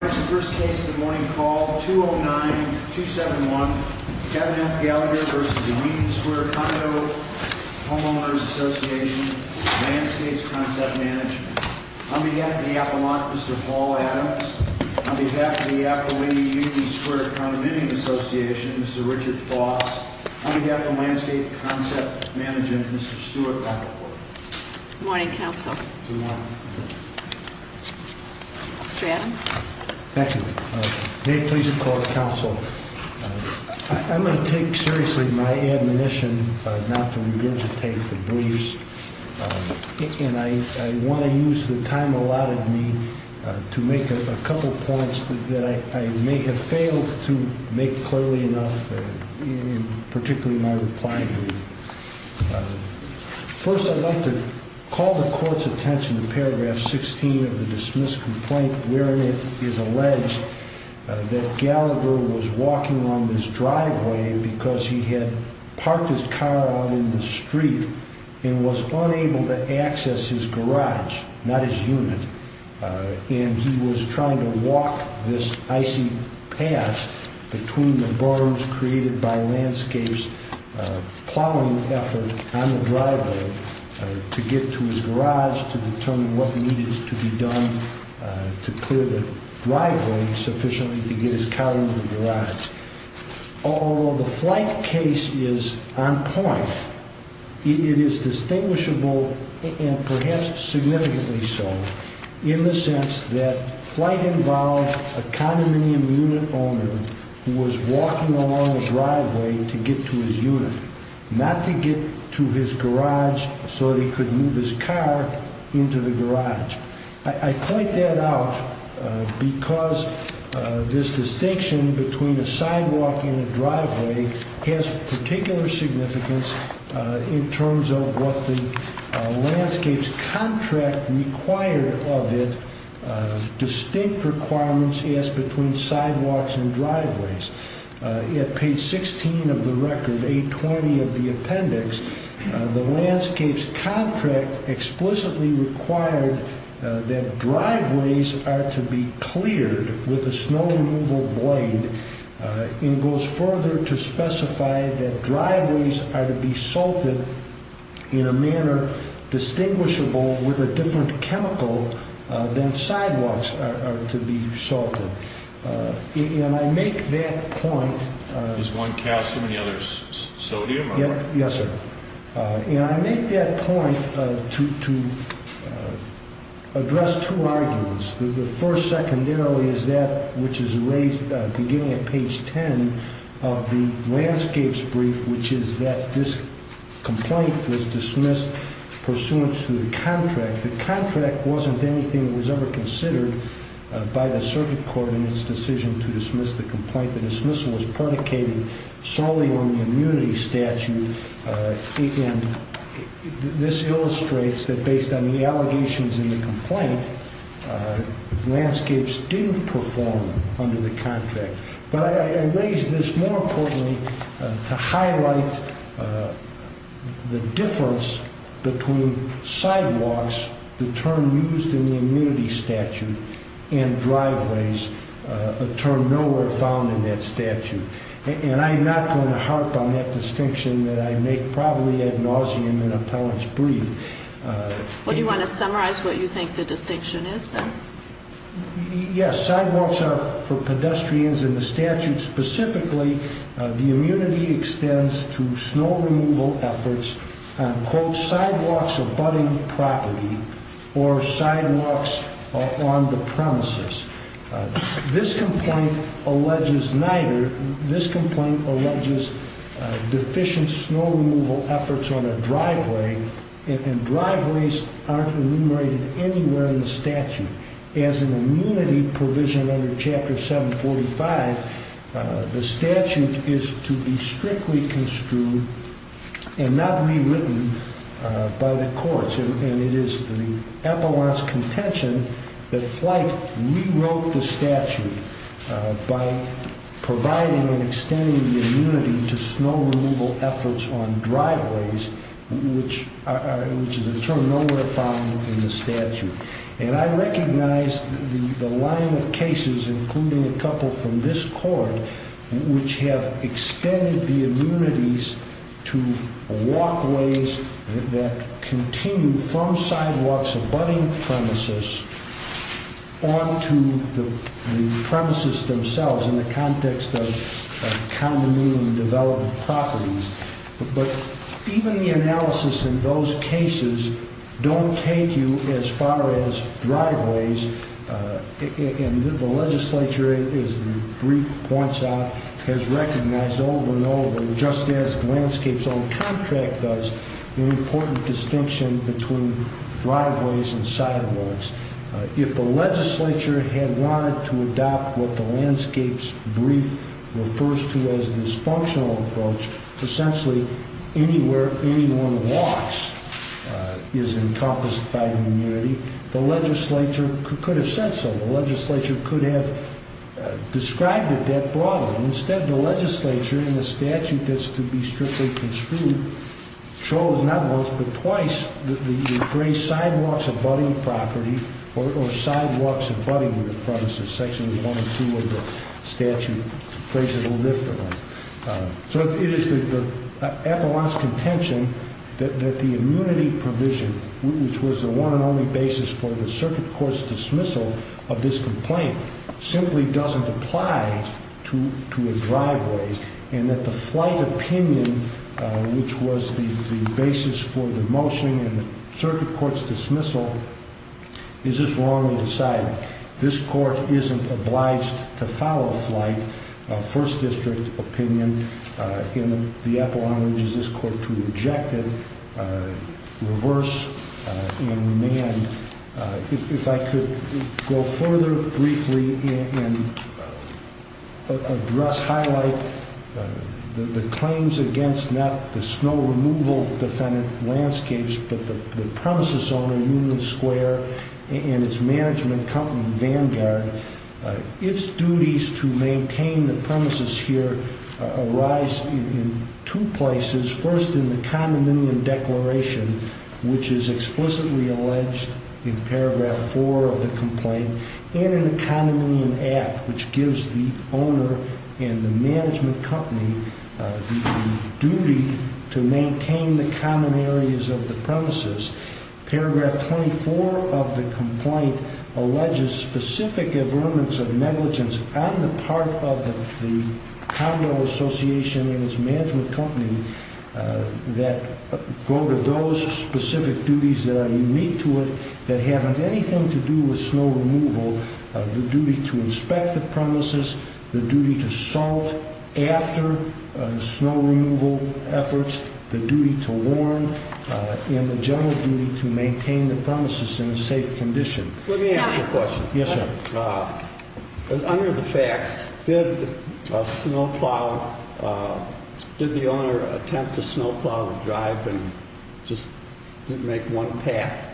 First case of the morning, call 209-271, Gavin F. Gallagher v. The Union Square Condominium Homeowners Association, Landscapes Concept Management. On behalf of the apologist, Mr. Paul Adams. On behalf of the apolyte, Union Square Condominium Association, Mr. Richard Foss. On behalf of Landscapes Concept Management, Mr. Stuart Rappaport. Good morning, counsel. Good morning. Mr. Adams. Thank you. May it please the court, counsel. I'm going to take seriously my admonition not to regurgitate the briefs, and I want to use the time allotted me to make a couple points that I may have failed to make clearly enough, particularly my reply brief. First, I'd like to call the court's attention to paragraph 16 of the dismissed complaint wherein it is alleged that Gallagher was walking along this driveway because he had parked his car out in the street and was unable to access his garage, not his unit. And he was trying to walk this icy path between the barns created by Landscapes' plowing effort on the driveway to get to his garage to determine what needed to be done to clear the driveway sufficiently to get his car out of the garage. Although the flight case is on point, it is distinguishable, and perhaps significantly so, in the sense that flight involved a condominium unit owner who was walking along the driveway to get to his unit, not to get to his garage so that he could move his car into the garage. I point that out because this distinction between a sidewalk and a driveway has particular significance in terms of what the Landscapes' contract required of it, distinct requirements asked between sidewalks and driveways. At page 16 of the record, page 20 of the appendix, the Landscapes' contract explicitly required that driveways are to be cleared with a snow removal blade. It goes further to specify that driveways are to be salted in a manner distinguishable with a different chemical than sidewalks are to be salted. I make that point to address two arguments. The first, secondarily, is that which is raised beginning at page 10 of the Landscapes' brief, which is that this complaint was dismissed pursuant to the contract. The contract wasn't anything that was ever considered by the circuit court in its decision to dismiss the complaint. The dismissal was predicated solely on the immunity statute, and this illustrates that based on the allegations in the complaint, Landscapes didn't perform under the contract. But I raise this more importantly to highlight the difference between sidewalks, the term used in the immunity statute, and driveways, a term nowhere found in that statute. And I'm not going to harp on that distinction that I make probably ad nauseum in Appellant's brief. Do you want to summarize what you think the distinction is, then? Yes, sidewalks are for pedestrians. In the statute specifically, the immunity extends to snow removal efforts on, quote, sidewalks abutting property or sidewalks on the premises. This complaint alleges neither. This complaint alleges deficient snow removal efforts on a driveway, and driveways aren't enumerated anywhere in the statute. As an immunity provision under Chapter 745, the statute is to be strictly construed and not rewritten by the courts. And it is the Appellant's contention that Flight rewrote the statute by providing and extending the immunity to snow removal efforts on driveways, which is a term nowhere found in the statute. And I recognize the line of cases, including a couple from this court, which have extended the immunities to walkways that continue from sidewalks abutting premises onto the premises themselves in the context of condominium development properties. But even the analysis in those cases don't take you as far as driveways. And the legislature, as the brief points out, has recognized over and over, just as Landscape's own contract does, an important distinction between driveways and sidewalks. If the legislature had wanted to adopt what the Landscape's brief refers to as this functional approach, essentially anywhere anyone walks is encompassed by the immunity, the legislature could have said so. The legislature could have described it that broadly. Instead, the legislature, in the statute that's to be strictly construed, chose not once but twice the phrase sidewalks abutting property or sidewalks abutting the premises. Sections 1 and 2 of the statute phrase it a little differently. So it is the epilogue's contention that the immunity provision, which was the one and only basis for the circuit court's dismissal of this complaint, simply doesn't apply to a driveway. And that the flight opinion, which was the basis for the motion and the circuit court's dismissal, is just wrongly decided. This court isn't obliged to follow flight. First district opinion in the epilogue urges this court to reject it, reverse, and remand. If I could go further, briefly, and address, highlight the claims against not the snow removal defendant Landscapes, but the premises owner Union Square and its management company, Vanguard. Its duties to maintain the premises here arise in two places, first in the condominium declaration, which is explicitly alleged in paragraph 4 of the complaint, and in the condominium act, which gives the owner and the management company the duty to maintain the common areas of the premises. Paragraph 24 of the complaint alleges specific averments of negligence on the part of the condo association and its management company that go to those specific duties that are unique to it that haven't anything to do with snow removal. The duty to inspect the premises, the duty to salt after snow removal efforts, the duty to warn, and the general duty to maintain the premises in a safe condition. Let me ask you a question. Yes, sir. Under the facts, did the owner attempt to snow plow the drive and just didn't make one path?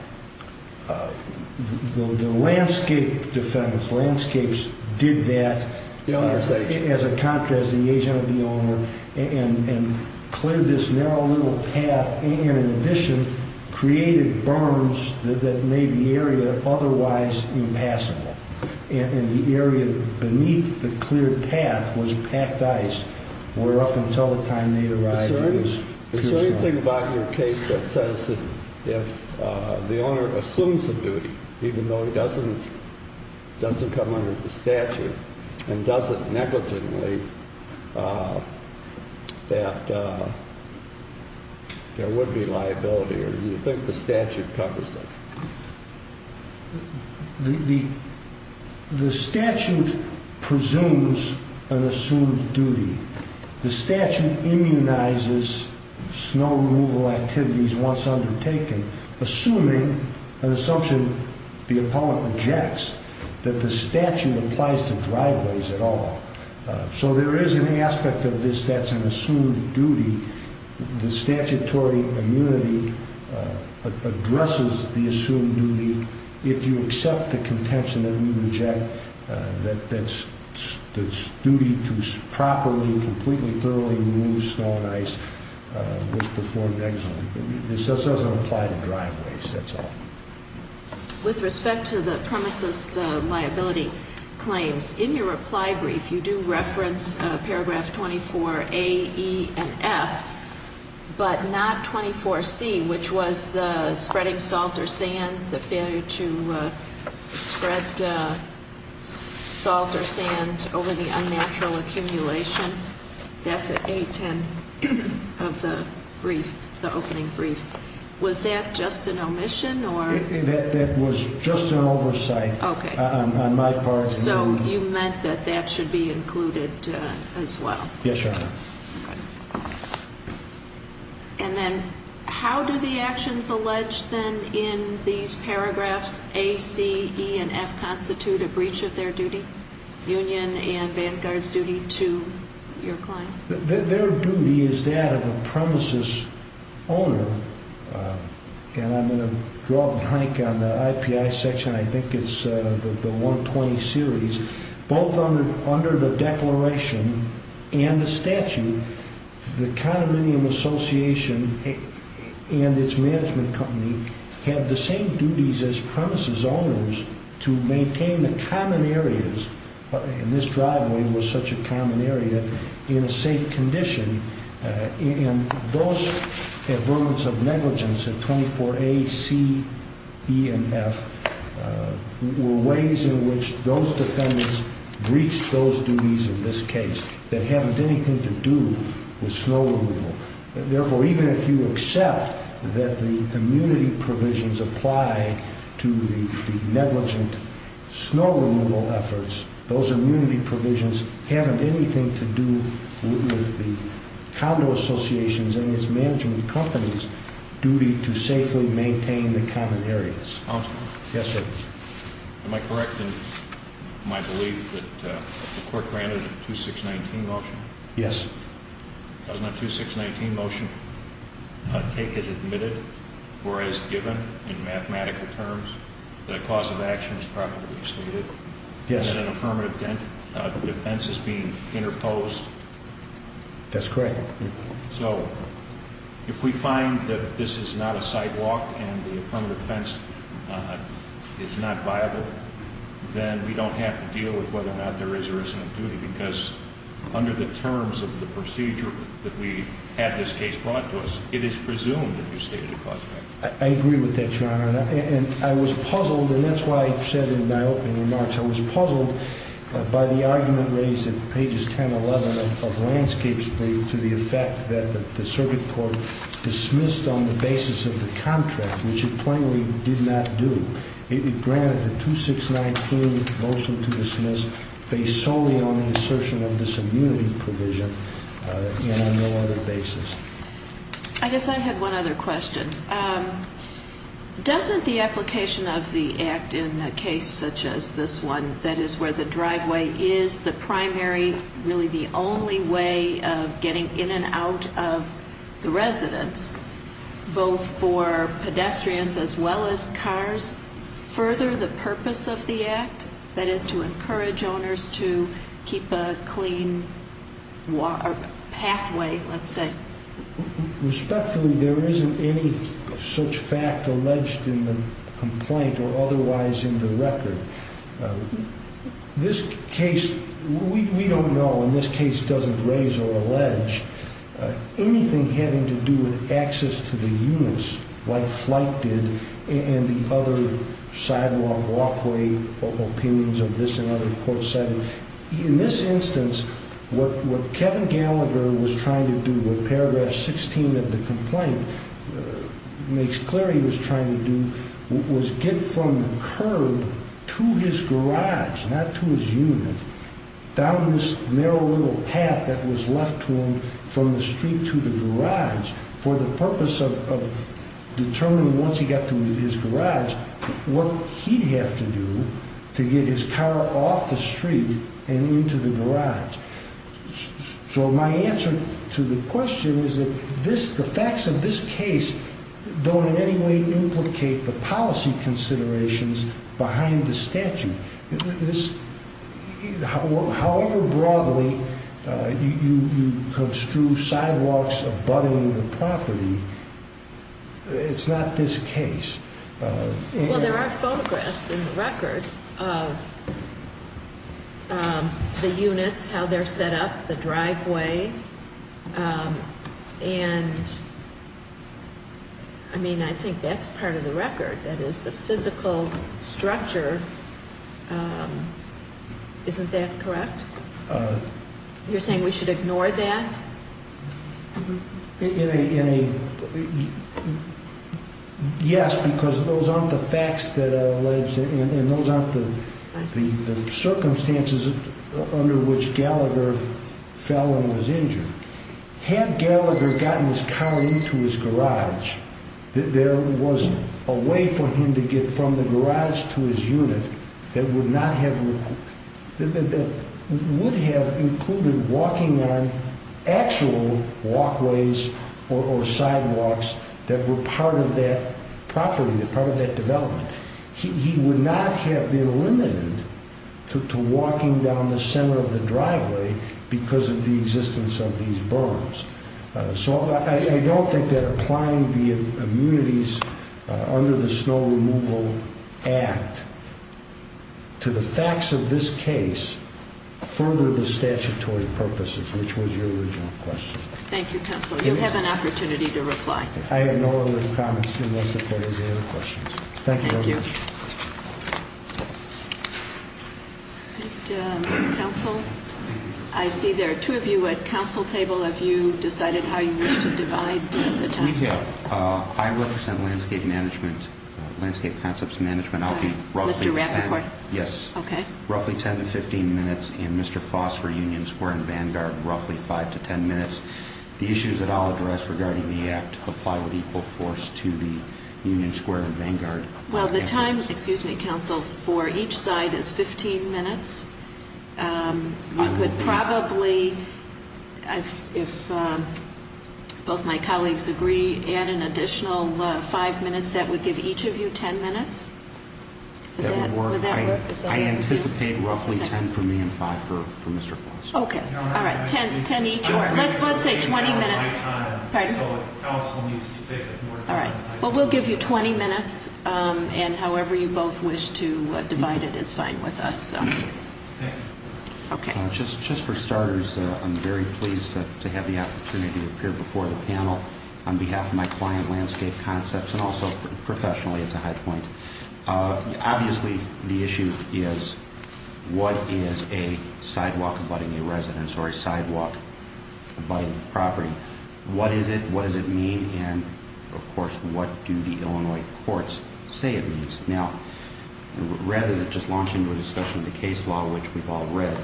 The landscape defendants, Landscapes, did that, as a contrast, the agent of the owner, and cleared this narrow little path and, in addition, created berms that made the area otherwise impassable. And the area beneath the cleared path was packed ice, where up until the time they arrived, it was pure snow. Is there anything about your case that says that if the owner assumes a duty, even though it doesn't come under the statute and does it negligently, that there would be liability? Or do you think the statute covers that? The statute presumes an assumed duty. The statute immunizes snow removal activities once undertaken, assuming an assumption the appellant rejects, that the statute applies to driveways at all. So there is an aspect of this that's an assumed duty. The statutory immunity addresses the assumed duty if you accept the contention that we reject, that it's duty to properly, completely, thoroughly remove snow and ice, which performed negligently. This doesn't apply to driveways, that's all. With respect to the premises liability claims, in your reply brief, you do reference paragraph 24A, E, and F. But not 24C, which was the spreading salt or sand, the failure to spread salt or sand over the unnatural accumulation. That's at 810 of the brief, the opening brief. Was that just an omission? That was just an oversight on my part. So you meant that that should be included as well? Yes, Your Honor. And then how do the actions alleged then in these paragraphs, A, C, E, and F, constitute a breach of their duty, union and Vanguard's duty to your client? Their duty is that of a premises owner, and I'm going to draw a blank on the IPI section, I think it's the 120 series. Both under the declaration and the statute, the condominium association and its management company have the same duties as premises owners to maintain the common areas, and this driveway was such a common area, in a safe condition. And those averments of negligence at 24A, C, E, and F were ways in which those defendants breached those duties in this case that haven't anything to do with snow removal. The condo associations and its management companies' duty to safely maintain the common areas. Counselor? Yes, sir. Am I correct in my belief that the court granted a 2619 motion? Yes. Doesn't a 2619 motion take as admitted or as given in mathematical terms that a cause of action is properly stated? Yes. And that an affirmative defense is being interposed? That's correct. So if we find that this is not a sidewalk and the affirmative defense is not viable, then we don't have to deal with whether or not there is or isn't a duty, because under the terms of the procedure that we have this case brought to us, it is presumed that you stated a cause of action. And I was puzzled, and that's why I said in my opening remarks, I was puzzled by the argument raised at pages 10, 11 of Landscape's brief to the effect that the circuit court dismissed on the basis of the contract, which it plainly did not do. It granted a 2619 motion to dismiss based solely on the assertion of this immunity provision and on no other basis. I guess I had one other question. Doesn't the application of the act in a case such as this one, that is where the driveway is the primary, really the only way of getting in and out of the residence, both for pedestrians as well as cars, further the purpose of the act, that is to encourage owners to keep a clean pathway, let's say? Respectfully, there isn't any such fact alleged in the complaint or otherwise in the record. This case, we don't know, and this case doesn't raise or allege anything having to do with access to the units like Flight did and the other sidewalk, walkway opinions of this and other court settings. In this instance, what Kevin Gallagher was trying to do, what paragraph 16 of the complaint makes clear he was trying to do was get from the curb to his garage, not to his unit, down this narrow little path that was left to him from the street to the garage for the purpose of determining once he got to his garage what he'd have to do to get his car off the street and into the garage. So my answer to the question is that the facts of this case don't in any way implicate the policy considerations behind the statute. However broadly you construe sidewalks abutting the property, it's not this case. Well, there are photographs in the record of the units, how they're set up, the driveway, and I mean, I think that's part of the record. That is the physical structure, isn't that correct? You're saying we should ignore that? Yes, because those aren't the facts that are alleged and those aren't the circumstances under which Gallagher fell and was injured. Had Gallagher gotten his car into his garage, there was a way for him to get from the garage to his unit that would have included walking on actual walkways or sidewalks that were part of that property, part of that development. He would not have been limited to walking down the center of the driveway because of the existence of these berms. So I don't think that applying the immunities under the Snow Removal Act to the facts of this case furthered the statutory purposes, which was your original question. Thank you, counsel. You'll have an opportunity to reply. I have no other comments unless if there is any other questions. Thank you very much. Thank you. All right, counsel, I see there are two of you at counsel table. Have you decided how you wish to divide the time? We have. I represent landscape management, landscape concepts management. I'll be roughly 10 minutes. Mr. Rappaport? Yes. Okay. Well, the time, excuse me, counsel, for each side is 15 minutes. You could probably, if both my colleagues agree, add an additional five minutes. That would give each of you 10 minutes. Would that work? I anticipate roughly 10 for me and five for Mr. Flores. Okay. All right. 10 each. Let's say 20 minutes. All right. Well, we'll give you 20 minutes, and however you both wish to divide it is fine with us. Thank you. Okay. Just for starters, I'm very pleased to have the opportunity to appear before the panel on behalf of my client, Landscape Concepts, and also professionally, it's a high point. Obviously, the issue is what is a sidewalk abutting a residence or a sidewalk abutting a property? What is it, what does it mean, and, of course, what do the Illinois courts say it means? Now, rather than just launching into a discussion of the case law, which we've all read,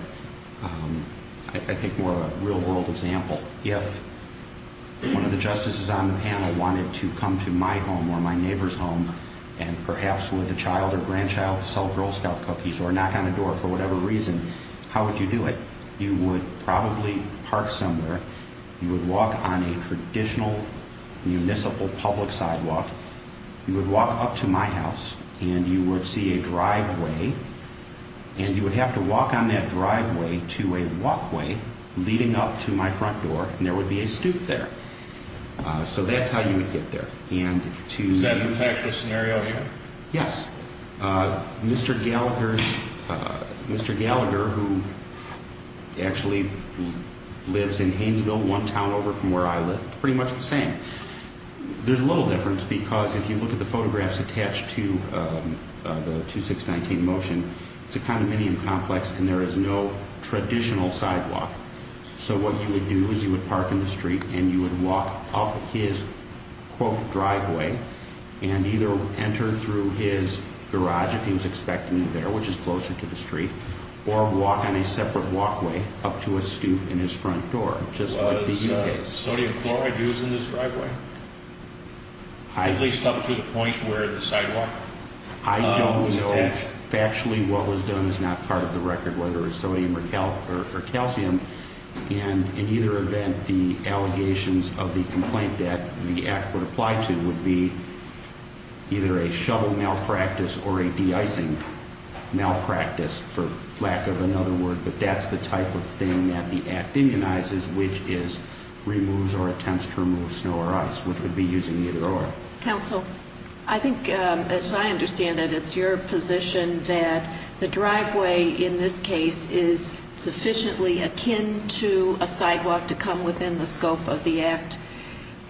I think more of a real-world example. If one of the justices on the panel wanted to come to my home or my neighbor's home and perhaps with a child or grandchild sell Girl Scout cookies or knock on a door for whatever reason, how would you do it? You would probably park somewhere. You would walk on a traditional municipal public sidewalk. You would walk up to my house, and you would see a driveway, and you would have to walk on that driveway to a walkway leading up to my front door, and there would be a stoop there. So that's how you would get there. Is that the actual scenario here? Yes. Mr. Gallagher, who actually lives in Haynesville, one town over from where I live, it's pretty much the same. There's a little difference because if you look at the photographs attached to the 2619 motion, it's a condominium complex, and there is no traditional sidewalk. So what you would do is you would park in the street, and you would walk up his, quote, driveway and either enter through his garage, if he was expecting you there, which is closer to the street, or walk on a separate walkway up to a stoop in his front door, just like the U.K. Was sodium chloride used in this driveway, at least up to the point where the sidewalk was attached? I don't know. Factually, what was done is not part of the record, whether it was sodium or calcium, and in either event, the allegations of the complaint that the Act would apply to would be either a shovel malpractice or a de-icing malpractice, for lack of another word. But that's the type of thing that the Act immunizes, which is removes or attempts to remove snow or ice, which would be using either or. Counsel, I think, as I understand it, it's your position that the driveway in this case is sufficiently akin to a sidewalk to come within the scope of the Act.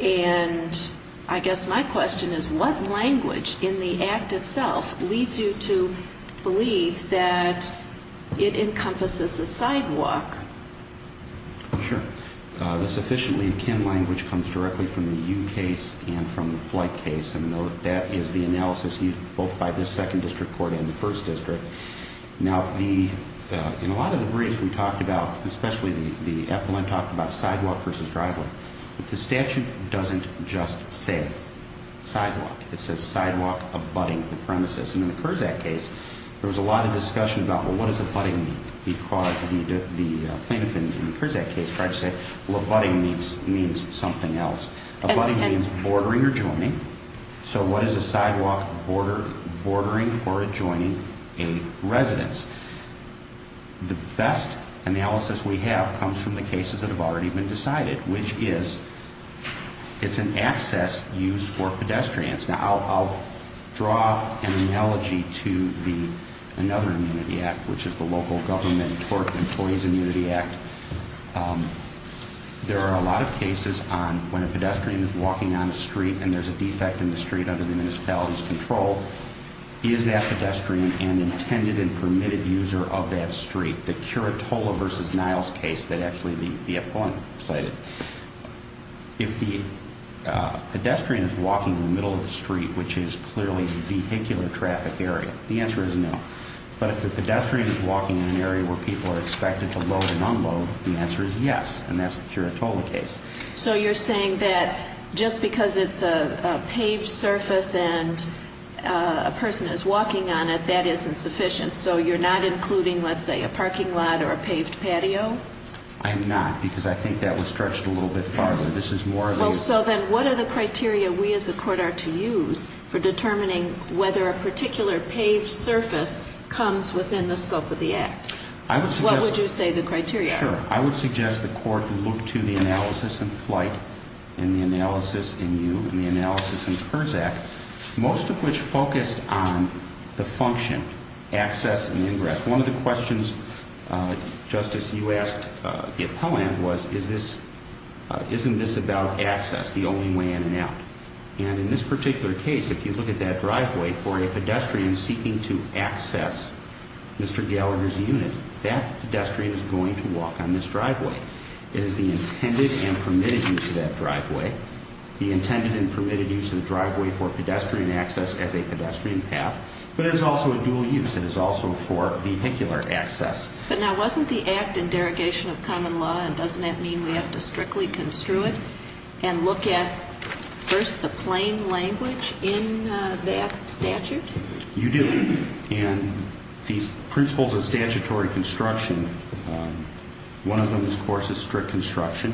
And I guess my question is, what language in the Act itself leads you to believe that it encompasses a sidewalk? Sure. The sufficiently akin language comes directly from the U case and from the flight case, and that is the analysis used both by this Second District Court and the First District. Now, in a lot of the briefs we talked about, especially the appellant talked about sidewalk versus driveway, but the statute doesn't just say sidewalk. It says sidewalk abutting the premises, and in the Kurzak case, there was a lot of discussion about, well, what does abutting mean? Because the plaintiff in the Kurzak case tried to say, well, abutting means something else. Abutting means bordering or joining, so what is a sidewalk bordering or adjoining a residence? The best analysis we have comes from the cases that have already been decided, which is it's an access used for pedestrians. Now, I'll draw an analogy to another immunity act, which is the Local Government Employees Immunity Act. There are a lot of cases on when a pedestrian is walking on a street and there's a defect in the street under the municipality's control, is that pedestrian an intended and permitted user of that street? In the Curatola versus Niles case that actually the appellant cited, if the pedestrian is walking in the middle of the street, which is clearly vehicular traffic area, the answer is no. But if the pedestrian is walking in an area where people are expected to load and unload, the answer is yes, and that's the Curatola case. So you're saying that just because it's a paved surface and a person is walking on it, that isn't sufficient? So you're not including, let's say, a parking lot or a paved patio? I'm not, because I think that was stretched a little bit farther. This is more of a- Well, so then what are the criteria we as a court are to use for determining whether a particular paved surface comes within the scope of the act? I would suggest- What would you say the criteria are? Sure. I would suggest the court look to the analysis in Flight and the analysis in You and the analysis in Kurzak, most of which focused on the function, access and ingress. One of the questions, Justice, you asked the appellant was, isn't this about access, the only way in and out? And in this particular case, if you look at that driveway for a pedestrian seeking to access Mr. Gallagher's unit, that pedestrian is going to walk on this driveway. It is the intended and permitted use of that driveway, the intended and permitted use of the driveway for pedestrian access as a pedestrian path, but it is also a dual use. It is also for vehicular access. But now, wasn't the act in derogation of common law, and doesn't that mean we have to strictly construe it and look at first the plain language in that statute? You do. And these principles of statutory construction, one of them, of course, is strict construction.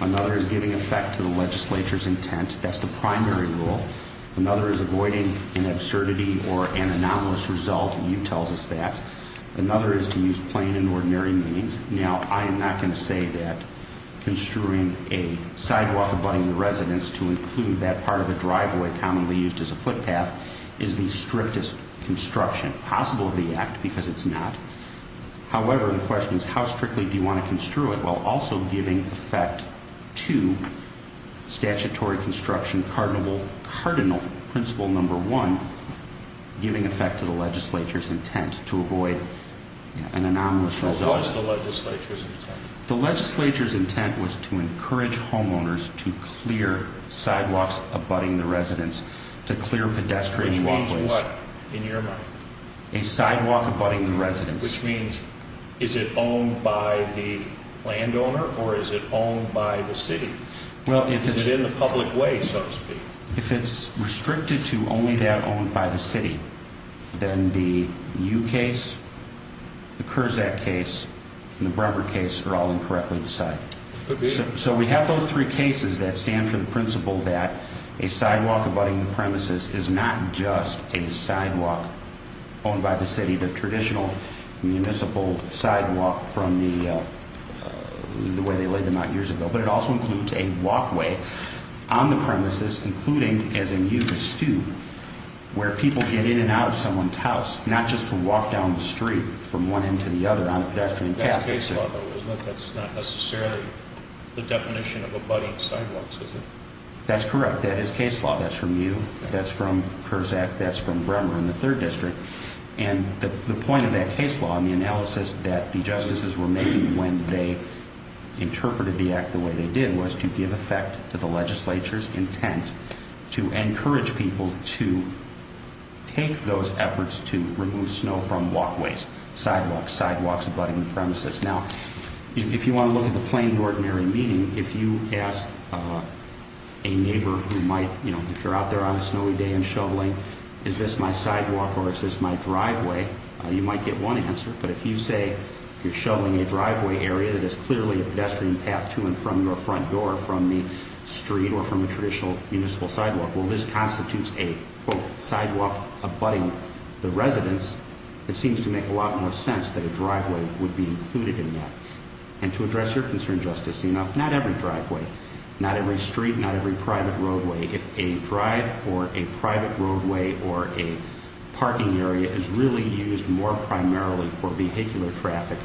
Another is giving effect to the legislature's intent. That's the primary rule. Another is avoiding an absurdity or an anomalous result. You tell us that. Another is to use plain and ordinary means. Now, I am not going to say that construing a sidewalk abutting the residence to include that part of the driveway commonly used as a footpath is the strictest construction possible of the act, because it's not. However, the question is how strictly do you want to construe it while also giving effect to statutory construction cardinal principle number one, giving effect to the legislature's intent to avoid an anomalous result. What was the legislature's intent? The legislature's intent was to encourage homeowners to clear sidewalks abutting the residence, to clear pedestrian walkways. Which means what, in your mind? A sidewalk abutting the residence. Which means is it owned by the landowner or is it owned by the city? Well, if it's in the public way, so to speak. If it's restricted to only that owned by the city, then the U case, the Kurzak case, and the Bremer case are all incorrectly decided. So we have those three cases that stand for the principle that a sidewalk abutting the premises is not just a sidewalk owned by the city, the traditional municipal sidewalk from the way they laid them out years ago. But it also includes a walkway on the premises, including, as in you, the stew, where people get in and out of someone's house, not just to walk down the street from one end to the other on a pedestrian path. That's case law, though, isn't it? That's not necessarily the definition of abutting sidewalks, is it? That's correct. That is case law. That's from you. That's from Kurzak. That's from Bremer in the 3rd District. And the point of that case law and the analysis that the justices were making when they interpreted the act the way they did was to give effect to the legislature's intent to encourage people to take those efforts to remove snow from walkways, sidewalks, sidewalks abutting the premises. Now, if you want to look at the plain ordinary meeting, if you ask a neighbor who might, you know, if you're out there on a snowy day and shoveling, is this my sidewalk or is this my driveway, you might get one answer. But if you say you're shoveling a driveway area that is clearly a pedestrian path to and from your front door, from the street or from a traditional municipal sidewalk, well, this constitutes a sidewalk abutting the residence. It seems to make a lot more sense that a driveway would be included in that. And to address your concern, Justice, not every driveway, not every street, not every private roadway, if a drive or a private roadway or a parking area is really used more primarily for vehicular traffic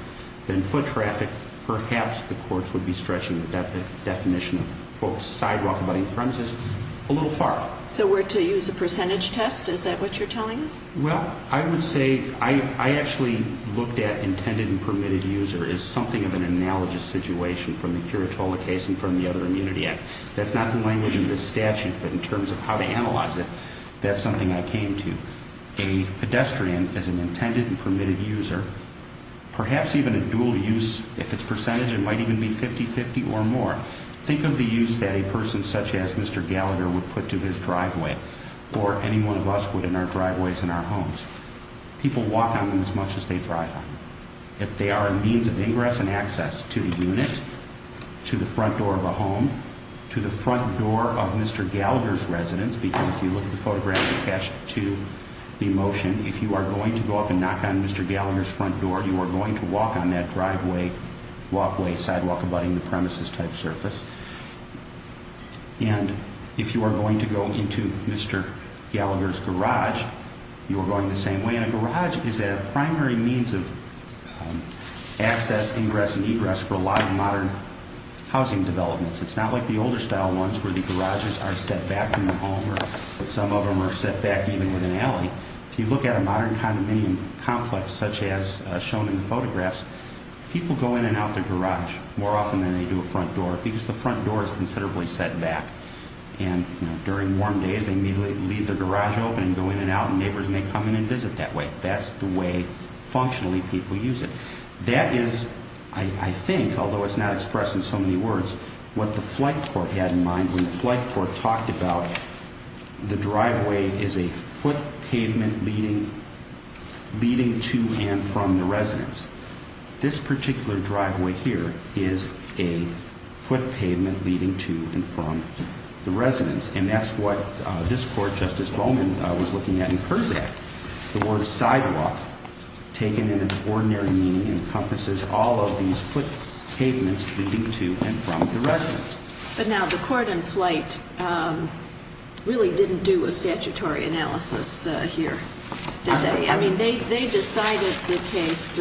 than foot traffic, perhaps the courts would be stretching the definition of sidewalk abutting the premises a little far. So we're to use a percentage test? Is that what you're telling us? Well, I would say I actually looked at intended and permitted user as something of an analogous situation from the Kiritola case and from the other Immunity Act. That's not the language of this statute, but in terms of how to analyze it, that's something I came to. A pedestrian is an intended and permitted user, perhaps even a dual use. If it's percentage, it might even be 50-50 or more. Think of the use that a person such as Mr. Gallagher would put to his driveway or any one of us would in our driveways in our homes. People walk on them as much as they drive on them. If they are a means of ingress and access to the unit, to the front door of a home, to the front door of Mr. Gallagher's residence, because if you look at the photographs attached to the motion, if you are going to go up and knock on Mr. Gallagher's front door, you are going to walk on that driveway, walkway, sidewalk abutting the premises type surface. And if you are going to go into Mr. Gallagher's garage, you are going the same way. And a garage is a primary means of access, ingress, and egress for a lot of modern housing developments. It's not like the older style ones where the garages are set back from the home or some of them are set back even with an alley. If you look at a modern condominium complex such as shown in the photographs, people go in and out the garage more often than they do a front door because the front door is considerably set back. And during warm days, they immediately leave their garage open and go in and out and neighbors may come in and visit that way. That's the way functionally people use it. That is, I think, although it's not expressed in so many words, what the flight court had in mind when the flight court talked about the driveway is a foot pavement leading to and from the residence. This particular driveway here is a foot pavement leading to and from the residence. And that's what this court, Justice Bowman, was looking at in Kurzak. The word sidewalk, taken in its ordinary meaning, encompasses all of these foot pavements leading to and from the residence. But now the court in flight really didn't do a statutory analysis here, did they? I mean, they decided the case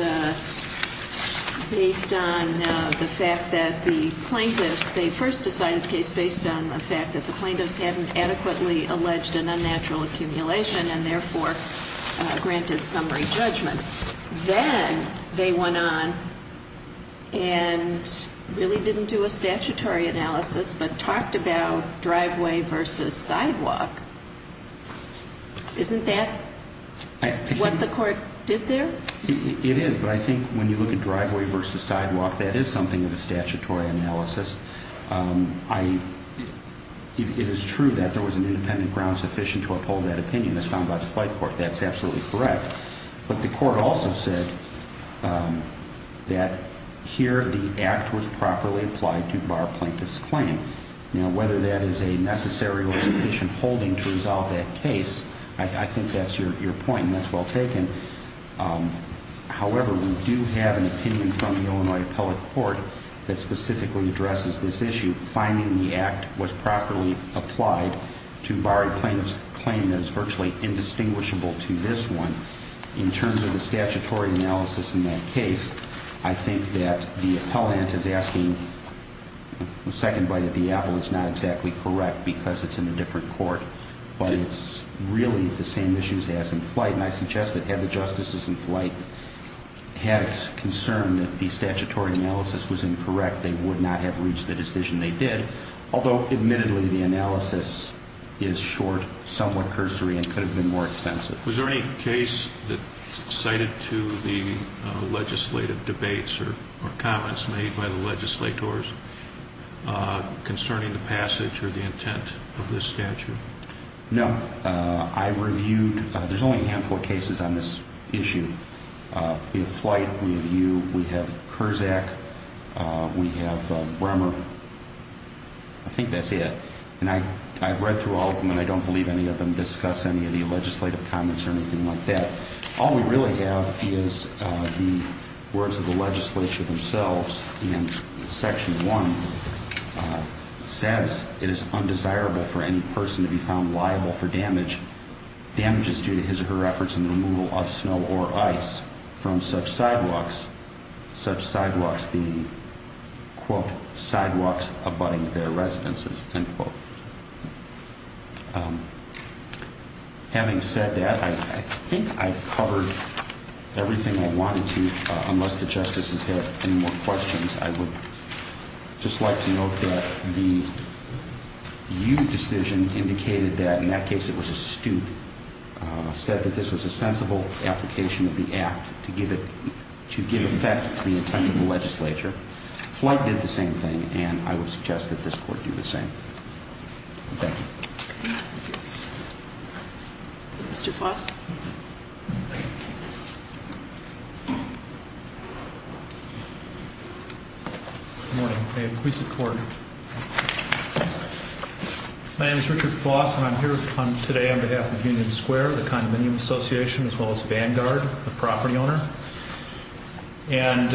based on the fact that the plaintiffs, they first decided the case based on the fact that the plaintiffs hadn't adequately alleged an unnatural accumulation and therefore granted summary judgment. Then they went on and really didn't do a statutory analysis but talked about driveway versus sidewalk. Isn't that what the court did there? It is. But I think when you look at driveway versus sidewalk, that is something of a statutory analysis. It is true that there was an independent ground sufficient to uphold that opinion as found by the flight court. That's absolutely correct. But the court also said that here the act was properly applied to bar a plaintiff's claim. Now, whether that is a necessary or sufficient holding to resolve that case, I think that's your point and that's well taken. However, we do have an opinion from the Illinois Appellate Court that specifically addresses this issue. Finding the act was properly applied to bar a plaintiff's claim that is virtually indistinguishable to this one. In terms of the statutory analysis in that case, I think that the appellant is asking a second bite at the apple. It's not exactly correct because it's in a different court. But it's really the same issues as in flight. And I suggest that had the justices in flight had concern that the statutory analysis was incorrect, they would not have reached the decision they did. Although, admittedly, the analysis is short, somewhat cursory, and could have been more extensive. Was there any case cited to the legislative debates or comments made by the legislators concerning the passage or the intent of this statute? No. I've reviewed – there's only a handful of cases on this issue. We have flight. We have you. We have Kurzak. We have Bremer. I think that's it. And I've read through all of them, and I don't believe any of them discuss any of the legislative comments or anything like that. All we really have is the words of the legislature themselves. And Section 1 says it is undesirable for any person to be found liable for damage, damages due to his or her efforts in the removal of snow or ice from such sidewalks, such sidewalks being, quote, sidewalks abutting their residences, end quote. Having said that, I think I've covered everything I wanted to, unless the justices have any more questions. I would just like to note that the you decision indicated that in that case it was astute, said that this was a sensible application of the act to give effect to the intent of the legislature. Flight did the same thing, and I would suggest that this court do the same. Thank you. Thank you. Mr. Foss. Good morning. May it please the court. My name is Richard Foss, and I'm here today on behalf of Union Square, the condominium association, as well as Vanguard, the property owner. And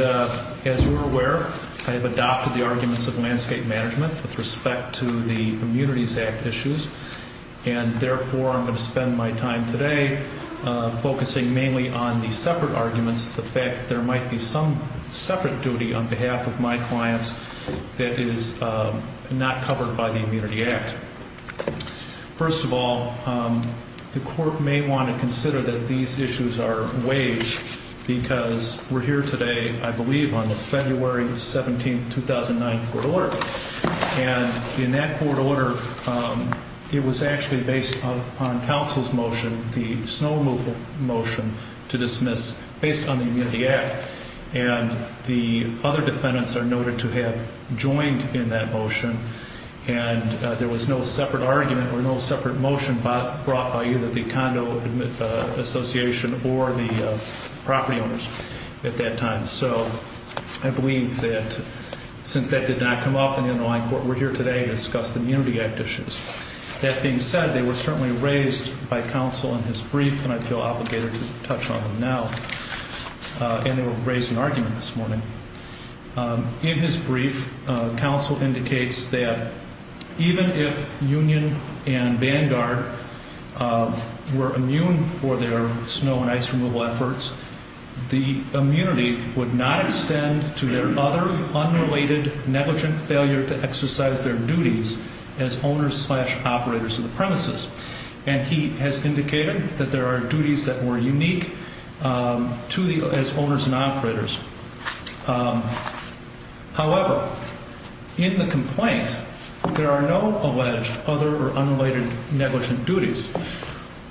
as you're aware, I have adopted the arguments of landscape management with respect to the Immunities Act issues. And therefore, I'm going to spend my time today focusing mainly on the separate arguments, the fact that there might be some separate duty on behalf of my clients that is not covered by the Immunity Act. First of all, the court may want to consider that these issues are waived because we're here today, I believe, on the February 17th, 2009, court order. And in that court order, it was actually based on counsel's motion, the snowmobile motion to dismiss based on the Immunity Act. And the other defendants are noted to have joined in that motion. And there was no separate argument or no separate motion brought by either the condo association or the property owners at that time. So I believe that since that did not come up in the underlying court, we're here today to discuss the Immunity Act issues. That being said, they were certainly raised by counsel in his brief, and I feel obligated to touch on them now. And they were raised in argument this morning. In his brief, counsel indicates that even if Union and Vanguard were immune for their snow and ice removal efforts, the immunity would not extend to their other unrelated negligent failure to exercise their duties as owners slash operators of the premises. And he has indicated that there are duties that were unique to the owners and operators. However, in the complaint, there are no alleged other or unrelated negligent duties.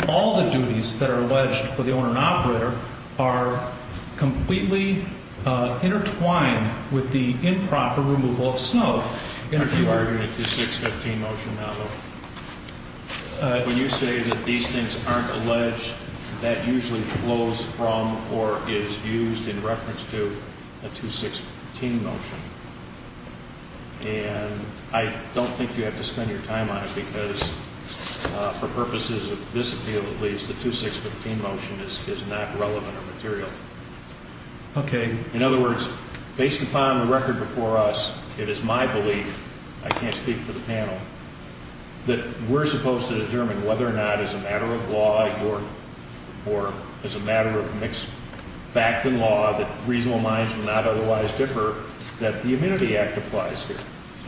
All the duties that are alleged for the owner and operator are completely intertwined with the improper removal of snow. I'm going to argue a 2-6-15 motion now, though. When you say that these things aren't alleged, that usually flows from or is used in reference to a 2-6-15 motion. And I don't think you have to spend your time on it, because for purposes of this appeal, at least, the 2-6-15 motion is not relevant or material. In other words, based upon the record before us, it is my belief, I can't speak for the panel, that we're supposed to determine whether or not as a matter of law or as a matter of mixed fact and law that reasonable minds will not otherwise differ, that the Immunity Act applies here.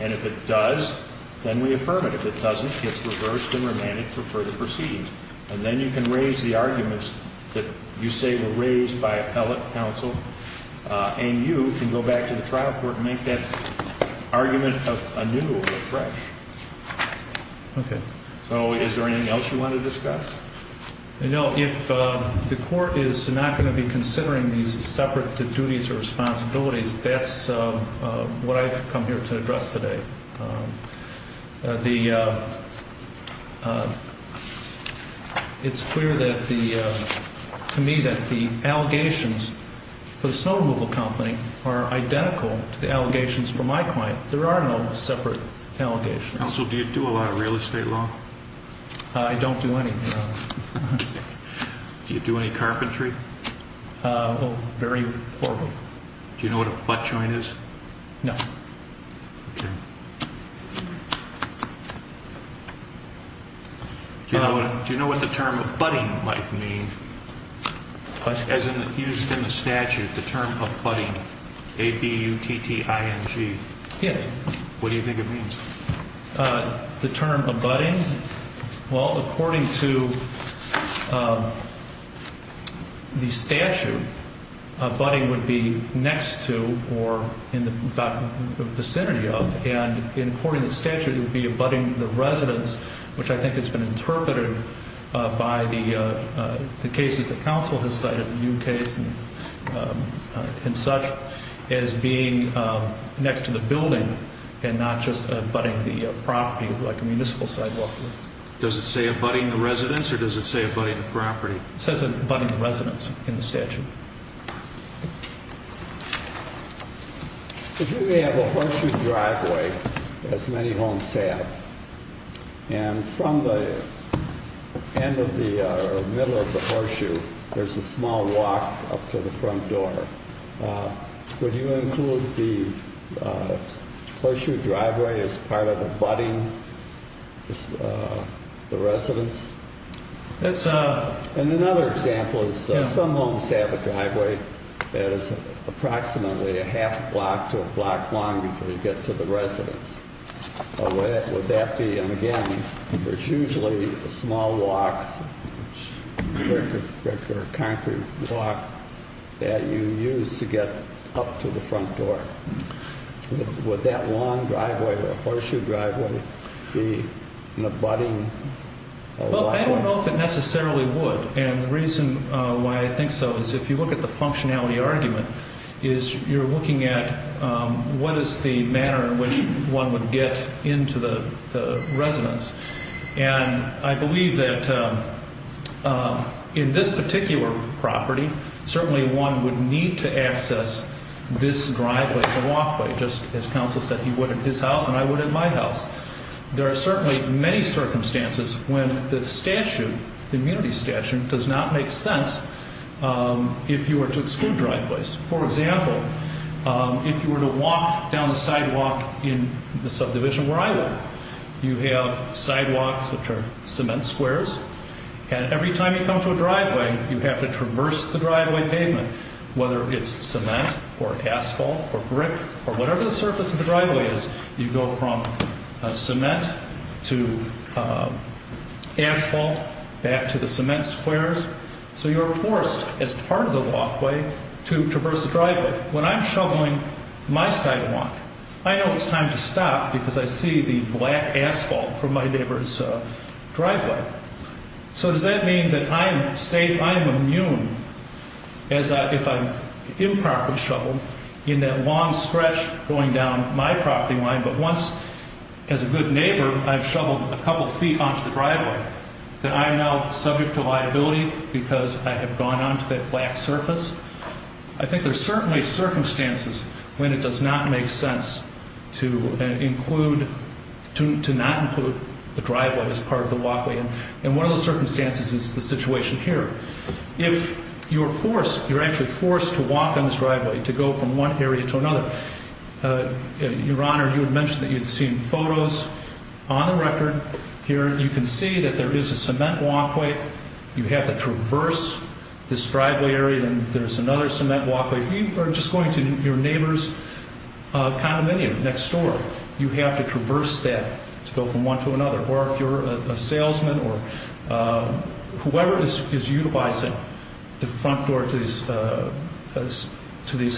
And if it does, then we affirm it. If it doesn't, it's reversed and remanded for further proceedings. And then you can raise the arguments that you say were raised by appellate counsel, and you can go back to the trial court and make that argument anew or fresh. Okay. So is there anything else you want to discuss? No. If the court is not going to be considering these separate duties or responsibilities, that's what I've come here to address today. It's clear to me that the allegations for the snow removal company are identical to the allegations for my client. There are no separate allegations. Counsel, do you do a lot of real estate law? I don't do any. Do you do any carpentry? Very poor. Do you know what a butt joint is? No. Okay. Do you know what the term abutting might mean? As used in the statute, the term abutting, A-B-U-T-T-I-N-G. Yes. What do you think it means? The term abutting? Well, according to the statute, abutting would be next to or in the vicinity of, and according to the statute, it would be abutting the residence, which I think has been interpreted by the cases that counsel has cited, the new case and such, as being next to the building and not just abutting the property like a municipal sidewalk. Does it say abutting the residence or does it say abutting the property? It says abutting the residence in the statute. If you have a horseshoe driveway, as many homes have, and from the middle of the horseshoe there's a small walk up to the front door, would you include the horseshoe driveway as part of abutting the residence? Another example is some homes have a driveway that is approximately a half block to a block long before you get to the residence. Would that be, and again, there's usually a small walk, a regular concrete walk, that you use to get up to the front door. Would that long driveway, the horseshoe driveway, be an abutting? Well, I don't know if it necessarily would, and the reason why I think so is if you look at the functionality argument, is you're looking at what is the manner in which one would get into the residence, and I believe that in this particular property, certainly one would need to access this driveway as a walkway, just as counsel said he would at his house and I would at my house. There are certainly many circumstances when the statute, the immunity statute, does not make sense if you were to exclude driveways. For example, if you were to walk down the sidewalk in the subdivision where I work, you have sidewalks which are cement squares, and every time you come to a driveway you have to traverse the driveway pavement, whether it's cement or asphalt or brick or whatever the surface of the driveway is, you go from cement to asphalt back to the cement squares, so you're forced as part of the walkway to traverse the driveway. When I'm shoveling my sidewalk, I know it's time to stop because I see the black asphalt from my neighbor's driveway. So does that mean that I'm safe, I'm immune if I'm improperly shoveled in that long stretch going down my property line, but once, as a good neighbor, I've shoveled a couple feet onto the driveway, that I'm now subject to liability because I have gone onto that black surface? I think there are certainly circumstances when it does not make sense to include, to not include the driveway as part of the walkway, and one of those circumstances is the situation here. If you're forced, you're actually forced to walk on this driveway, to go from one area to another. Your Honor, you had mentioned that you had seen photos on the record here. You can see that there is a cement walkway. You have to traverse this driveway area, and there's another cement walkway. If you are just going to your neighbor's condominium next door, you have to traverse that to go from one to another, or if you're a salesman or whoever is utilizing the front door to these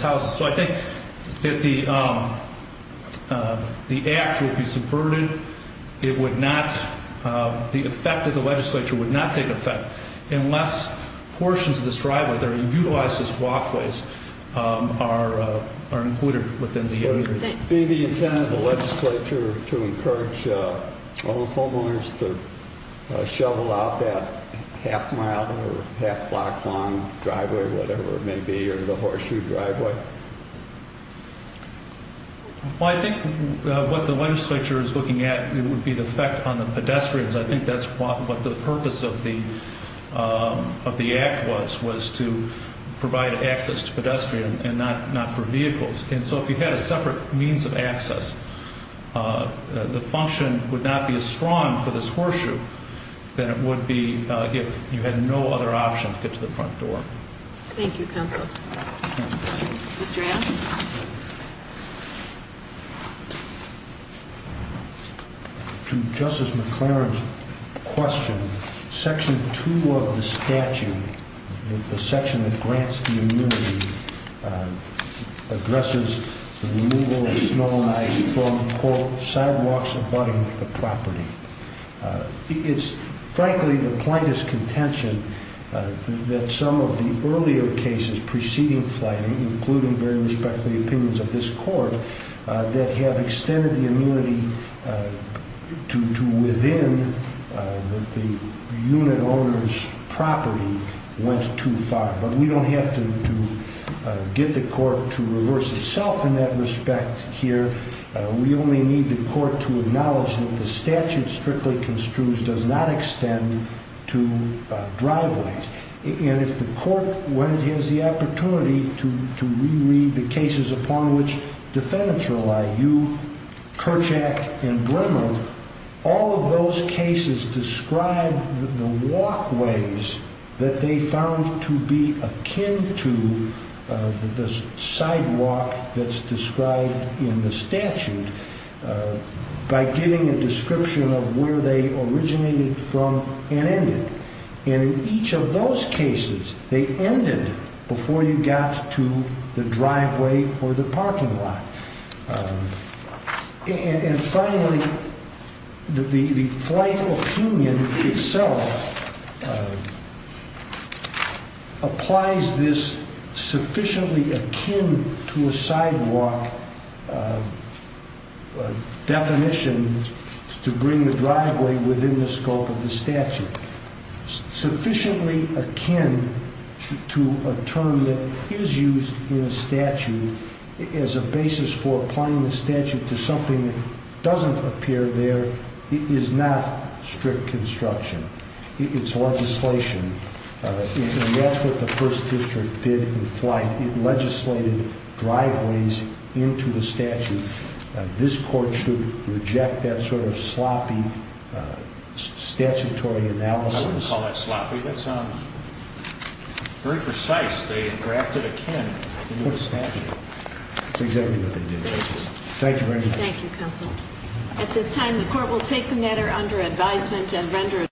houses. So I think that the act would be subverted. It would not, the effect of the legislature would not take effect unless portions of this driveway that are utilized as walkways are included within the area. Would it be the intent of the legislature to encourage homeowners to shovel out that half-mile or half-block long driveway, whatever it may be, or the horseshoe driveway? Well, I think what the legislature is looking at would be the effect on the pedestrians. I think that's what the purpose of the act was, was to provide access to pedestrians and not for vehicles. And so if you had a separate means of access, the function would not be as strong for this horseshoe than it would be if you had no other option to get to the front door. Thank you, counsel. Mr. Adams? To Justice McLaren's question, Section 2 of the statute, the section that grants the immunity, addresses the removal of snow and ice from sidewalks abutting the property. It's frankly the plaintiff's contention that some of the earlier cases preceding flooding, including very respectfully opinions of this court, that have extended the immunity to within the unit owner's property went too far. But we don't have to get the court to reverse itself in that respect here. We only need the court to acknowledge that the statute strictly construes does not extend to driveways. And if the court when it has the opportunity to reread the cases upon which defendants rely, you, Kerchak, and Bremer, all of those cases describe the walkways that they found to be akin to the sidewalk that's described in the statute by giving a description of where they originated from and ended. And in each of those cases, they ended before you got to the driveway or the parking lot. And finally, the flight opinion itself applies this sufficiently akin to a sidewalk definition to bring the driveway within the scope of the statute. Sufficiently akin to a term that is used in a statute as a basis for applying the statute to something that doesn't appear there is not strict construction. It's legislation. And that's what the first district did in flight. It legislated driveways into the statute. This court should reject that sort of sloppy statutory analysis. I wouldn't call that sloppy. That's very precise. They drafted akin to the statute. That's exactly what they did. Thank you very much. Thank you, counsel. At this time, the court will take the matter under advisement and render it.